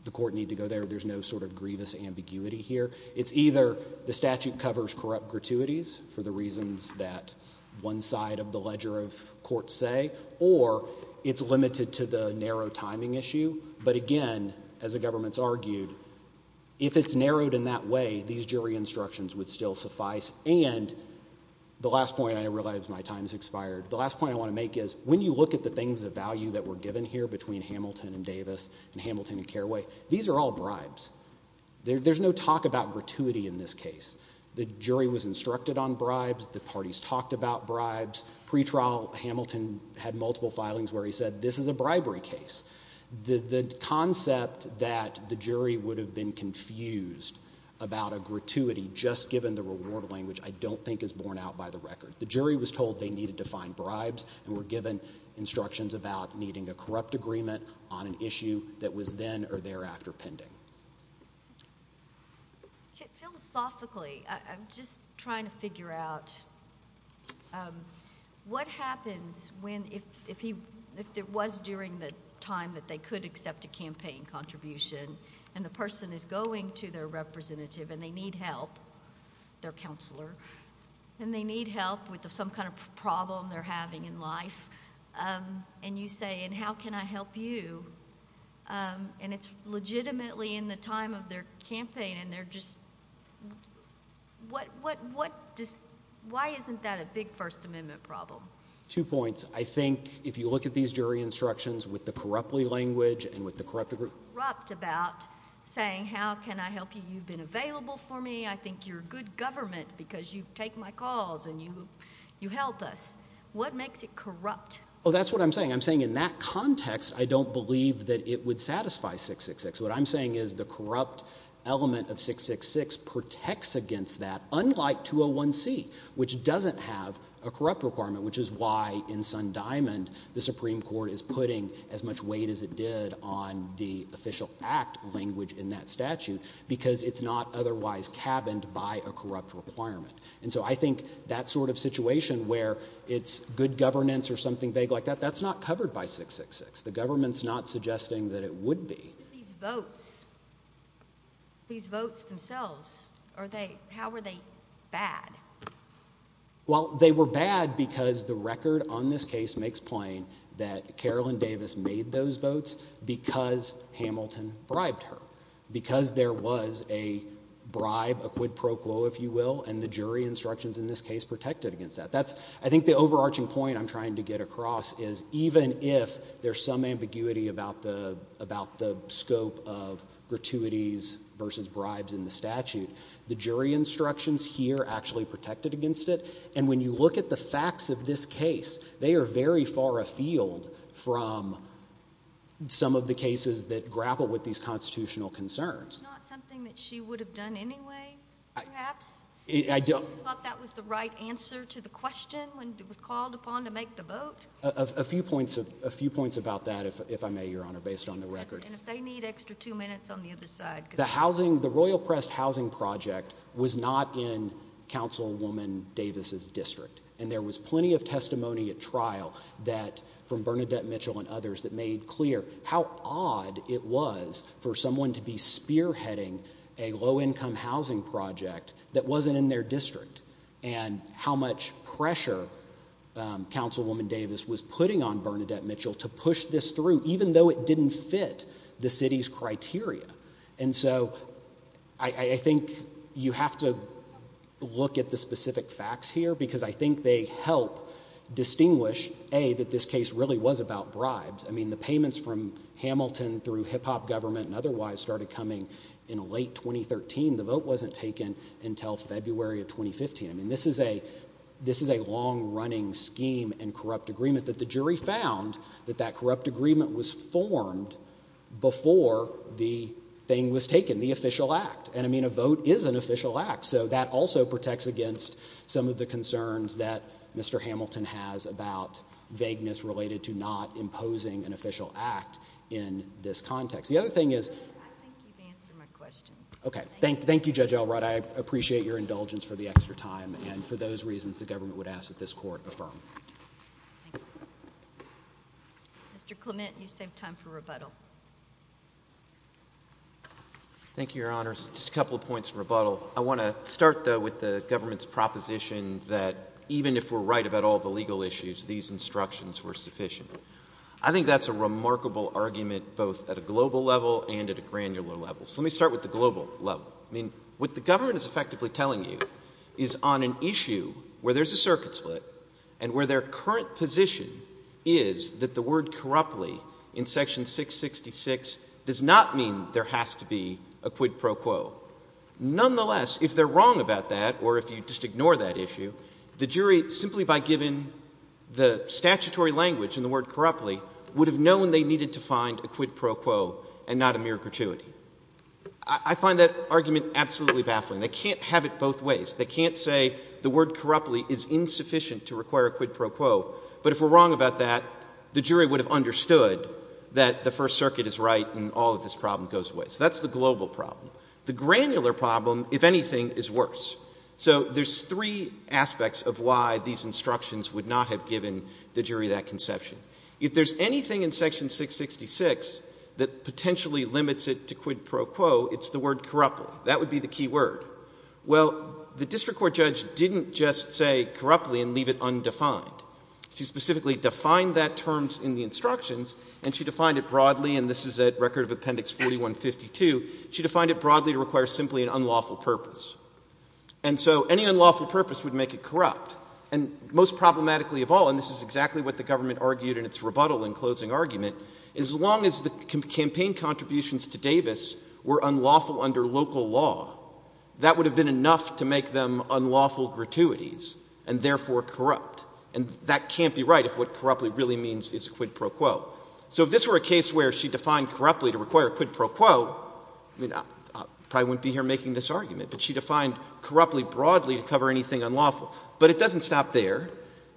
the court need to go there. There's no sort of grievous ambiguity here. It's either the statute covers corrupt gratuities for the reasons that one side of the ledger of court say, or it's limited to the narrow timing issue, but again, as the government's argued, if it's narrowed in that way, these jury instructions would still suffice, and the last point, I realize my time's expired, the last point I wanna make is, when you look at the things of value that were given here between Hamilton and Davis and Hamilton and Carraway, these are all bribes. There's no talk about gratuity in this case. The jury was instructed on bribes. The parties talked about bribes. Pre-trial, Hamilton had multiple filings where he said, this is a bribery case. The concept that the jury would have been confused about a gratuity just given the reward language, I don't think is borne out by the record. The jury was told they needed to find bribes and were given instructions about needing a corrupt agreement on an issue that was then or thereafter pending. Thank you. Philosophically, I'm just trying to figure out what happens if it was during the time that they could accept a campaign contribution and the person is going to their representative and they need help, their counselor, and they need help with some kind of problem they're having in life, and you say, and how can I help you? And it's legitimately in the time of their campaign and they're just, why isn't that a big First Amendment problem? Two points. I think if you look at these jury instructions with the corruptly language and with the corrupt agreement. Corrupt about saying, how can I help you? You've been available for me. I think you're good government because you take my calls and you help us. What makes it corrupt? Oh, that's what I'm saying. I'm saying in that context, I don't believe that it would satisfy 666. What I'm saying is the corrupt element of 666 protects against that, unlike 201C, which doesn't have a corrupt requirement, which is why in Sun Diamond, the Supreme Court is putting as much weight as it did on the official act language in that statute because it's not otherwise cabined by a corrupt requirement. And so I think that sort of situation where it's good governance or something vague like that, that's not covered by 666. The government's not suggesting that it would be. These votes, these votes themselves, how were they bad? Well, they were bad because the record on this case makes plain that Carolyn Davis made those votes because Hamilton bribed her, because there was a bribe, a quid pro quo, if you will, and the jury instructions in this case protected against that. I think the overarching point I'm trying to get across is even if there's some ambiguity about the scope of gratuities versus bribes in the statute, the jury instructions here actually protected against it. And when you look at the facts of this case, they are very far afield from some of the cases that grapple with these constitutional concerns. It's not something that she would have done anyway, perhaps? I don't- You thought that was the right answer to the question when it was called upon to make the vote? A few points about that, if I may, Your Honor, based on the record. And if they need extra two minutes on the other side. The housing, the Royal Crest housing project was not in Councilwoman Davis's district. And there was plenty of testimony at trial that from Bernadette Mitchell and others that made clear how odd it was for someone to be spearheading a low-income housing project that wasn't in their district and how much pressure Councilwoman Davis was putting on Bernadette Mitchell to push this through, even though it didn't fit the city's criteria. And so I think you have to look at the specific facts here because I think they help distinguish, A, that this case really was about bribes. I mean, the payments from Hamilton through hip hop government and otherwise started coming in late 2013. The vote wasn't taken until February of 2015. I mean, this is a long running scheme and corrupt agreement that the jury found that that corrupt agreement was formed before the thing was taken, the official act. And I mean, a vote is an official act. So that also protects against some of the concerns that Mr. Hamilton has about vagueness related to not imposing an official act in this context. The other thing is- I think you've answered my question. Okay, thank you, Judge Elrod. I appreciate your indulgence for the extra time. And for those reasons, the government would ask that this court affirm. Mr. Clement, you save time for rebuttal. Thank you, Your Honors. Just a couple of points of rebuttal. I wanna start though with the government's proposition that even if we're right about all the legal issues, these instructions were sufficient. I think that's a remarkable argument, both at a global level and at a granular level. So let me start with the global level. I mean, what the government is effectively telling you is on an issue where there's a circuit split and where their current position is that the word corruptly in section 666 does not mean there has to be a quid pro quo. Nonetheless, if they're wrong about that, or if you just ignore that issue, the jury simply by giving the statutory language in the word corruptly would have known they needed to find a quid pro quo and not a mere gratuity. I find that argument absolutely baffling. They can't have it both ways. They can't say the word corruptly is insufficient to require a quid pro quo. But if we're wrong about that, the jury would have understood that the First Circuit is right and all of this problem goes away. So that's the global problem. The granular problem, if anything, is worse. So there's three aspects of why these instructions would not have given the jury that conception. If there's anything in section 666 that potentially limits it to quid pro quo, it's the word corruptly. That would be the key word. Well, the district court judge didn't just say corruptly and leave it undefined. She specifically defined that terms in the instructions and she defined it broadly, and this is at Record of Appendix 4152, she defined it broadly to require simply an unlawful purpose. And so any unlawful purpose would make it corrupt. And most problematically of all, and this is exactly what the government argued in its rebuttal in closing argument, is as long as the campaign contributions to Davis were unlawful under local law, that would have been enough to make them unlawful gratuities and therefore corrupt. And that can't be right if what corruptly really means is quid pro quo. So if this were a case where she defined corruptly to require quid pro quo, I mean, I probably wouldn't be here making this argument, but she defined corruptly broadly to cover anything unlawful. But it doesn't stop there.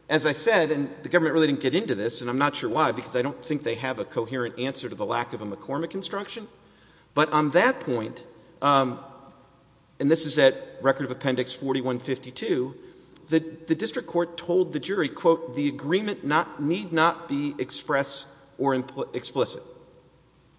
As I said, and the government really didn't get into this, and I'm not sure why, because I don't think they have a coherent answer to the lack of a McCormick instruction. But on that point, and this is at Record of Appendix 4152, the district court told the jury, quote, the agreement need not be express or explicit.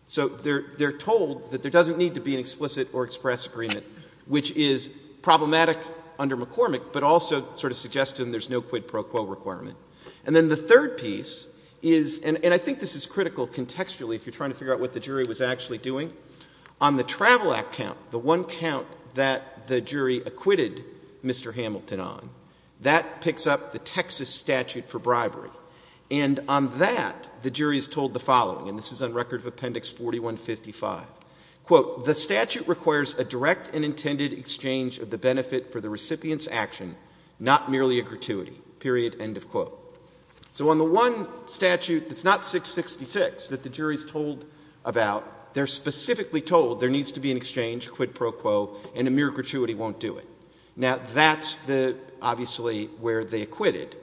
So they're told that there doesn't need to be an explicit or express agreement, which is problematic under McCormick, but also sort of suggests to them there's no quid pro quo requirement. And then the third piece is, and I think this is critical contextually if you're trying to figure out what the jury was actually doing, on the Travel Act count, the one count that the jury acquitted Mr. Hamilton on, that picks up the Texas statute for bribery. And on that, the jury is told the following, and this is on Record of Appendix 4155, quote, the statute requires a direct and intended exchange of the benefit for the recipient's action, not merely a gratuity, period, end of quote. So on the one statute that's not 666 that the jury's told about, they're specifically told there needs to be an exchange, quid pro quo, and a mere gratuity won't do it. Now, that's obviously where they acquitted.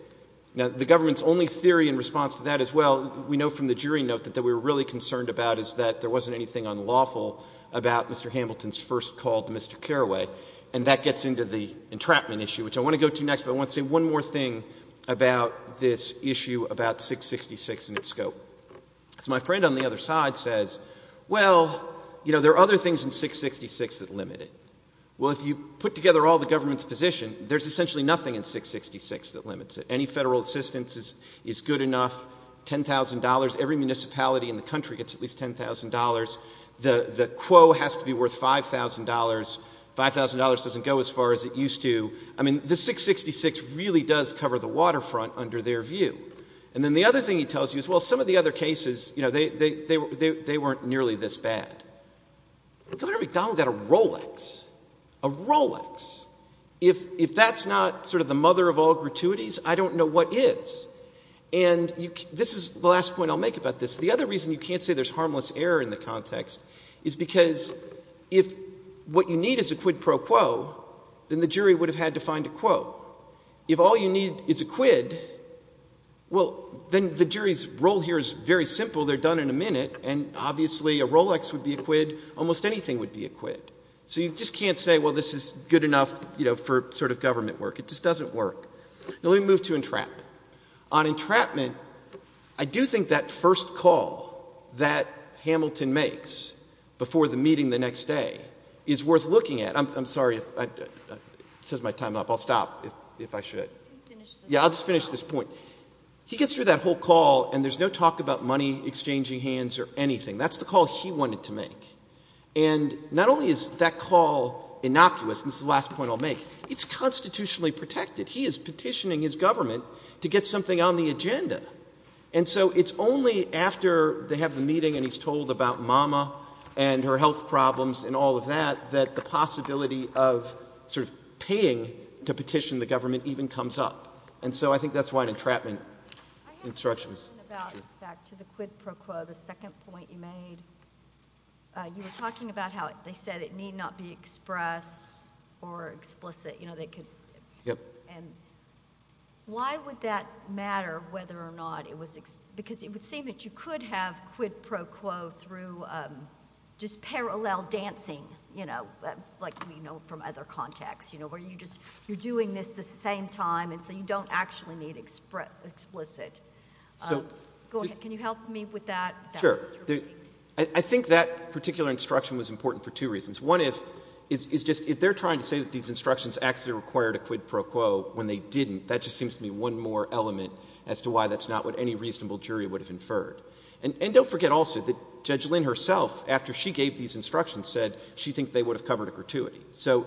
Now, the government's only theory in response to that as well, we know from the jury note that what we're really concerned about is that there wasn't anything unlawful about Mr. Hamilton's first call to Mr. Carraway, and that gets into the entrapment issue, which I want to go to next, but I want to say one more thing about this issue about 666 and its scope. So my friend on the other side says, well, you know, there are other things in 666 that limit it. Well, if you put together all the government's position, there's essentially nothing in 666 that limits it. Any federal assistance is good enough, $10,000, every municipality in the country gets at least $10,000, the quo has to be worth $5,000, $5,000 doesn't go as far as it used to. The 666 really does cover the waterfront under their view. And then the other thing he tells you is, well, some of the other cases, they weren't nearly this bad. Governor McDonald got a Rolex, a Rolex. If that's not sort of the mother of all gratuities, I don't know what is. And this is the last point I'll make about this. The other reason you can't say there's harmless error in the context is because if what you need is a quid pro quo, then the jury would have had to find a quo. If all you need is a quid, well, then the jury's role here is very simple, they're done in a minute, and obviously a Rolex would be a quid, almost anything would be a quid. So you just can't say, well, this is good enough for sort of government work, it just doesn't work. Now let me move to entrapment. On entrapment, I do think that first call that Hamilton makes before the meeting the next day is worth looking at. I'm sorry, it says my time up. I'll stop if I should. Yeah, I'll just finish this point. He gets through that whole call and there's no talk about money, exchanging hands or anything. That's the call he wanted to make. And not only is that call innocuous, and this is the last point I'll make, it's constitutionally protected. He is petitioning his government to get something on the agenda. And so it's only after they have the meeting and he's told about mama and her health problems and all of that, that the possibility of sort of paying to petition the government even comes up. And so I think that's why an entrapment instruction is. I have a question about, back to the quid pro quo, the second point you made. You were talking about how they said it need not be express or explicit. You know, they could. Yep. And why would that matter whether or not it was, because it would seem that you could have quid pro quo through just parallel dancing, you know, like we know from other contexts, you know, where you just, you're doing this the same time and so you don't actually need explicit. Go ahead. Can you help me with that? Sure. I think that particular instruction was important for two reasons. One is just, if they're trying to say that these instructions actually required a quid pro quo when they didn't, that just seems to be one more element as to why that's not what any reasonable jury would have inferred. And don't forget also that Judge Lynn herself, after she gave these instructions, said she thinks they would have covered a gratuity. So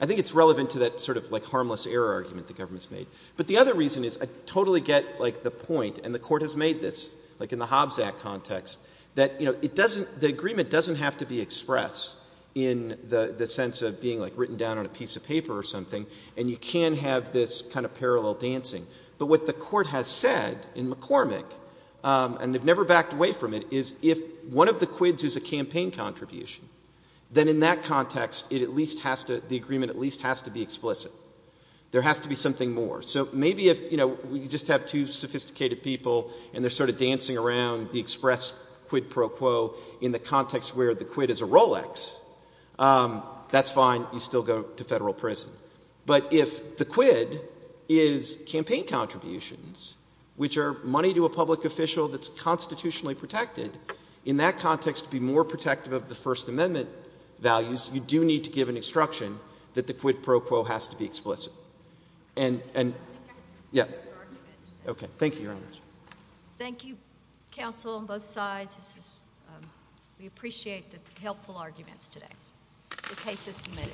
I think it's relevant to that sort of, like, harmless error argument the government's made. But the other reason is, I totally get, like, the point, and the Court has made this, like in the Hobbs Act context, that, you know, the agreement doesn't have to be expressed in the sense of being, like, written down on a piece of paper or something, and you can have this kind of parallel dancing. But what the Court has said in McCormick, and they've never backed away from it, is if one of the quids is a campaign contribution, then in that context, it at least has to, the agreement at least has to be explicit. There has to be something more. So maybe if, you know, we just have two sophisticated people and they're sort of dancing around the express quid pro quo in the context where the quid is a Rolex, that's fine, you still go to federal prison. But if the quid is campaign contributions, which are money to a public official that's constitutionally protected, in that context, to be more protective of the First Amendment values, you do need to give an instruction that the quid pro quo has to be explicit. And, yeah. Okay, thank you, Your Honor. Thank you, counsel on both sides. We appreciate the helpful arguments today. The case is submitted.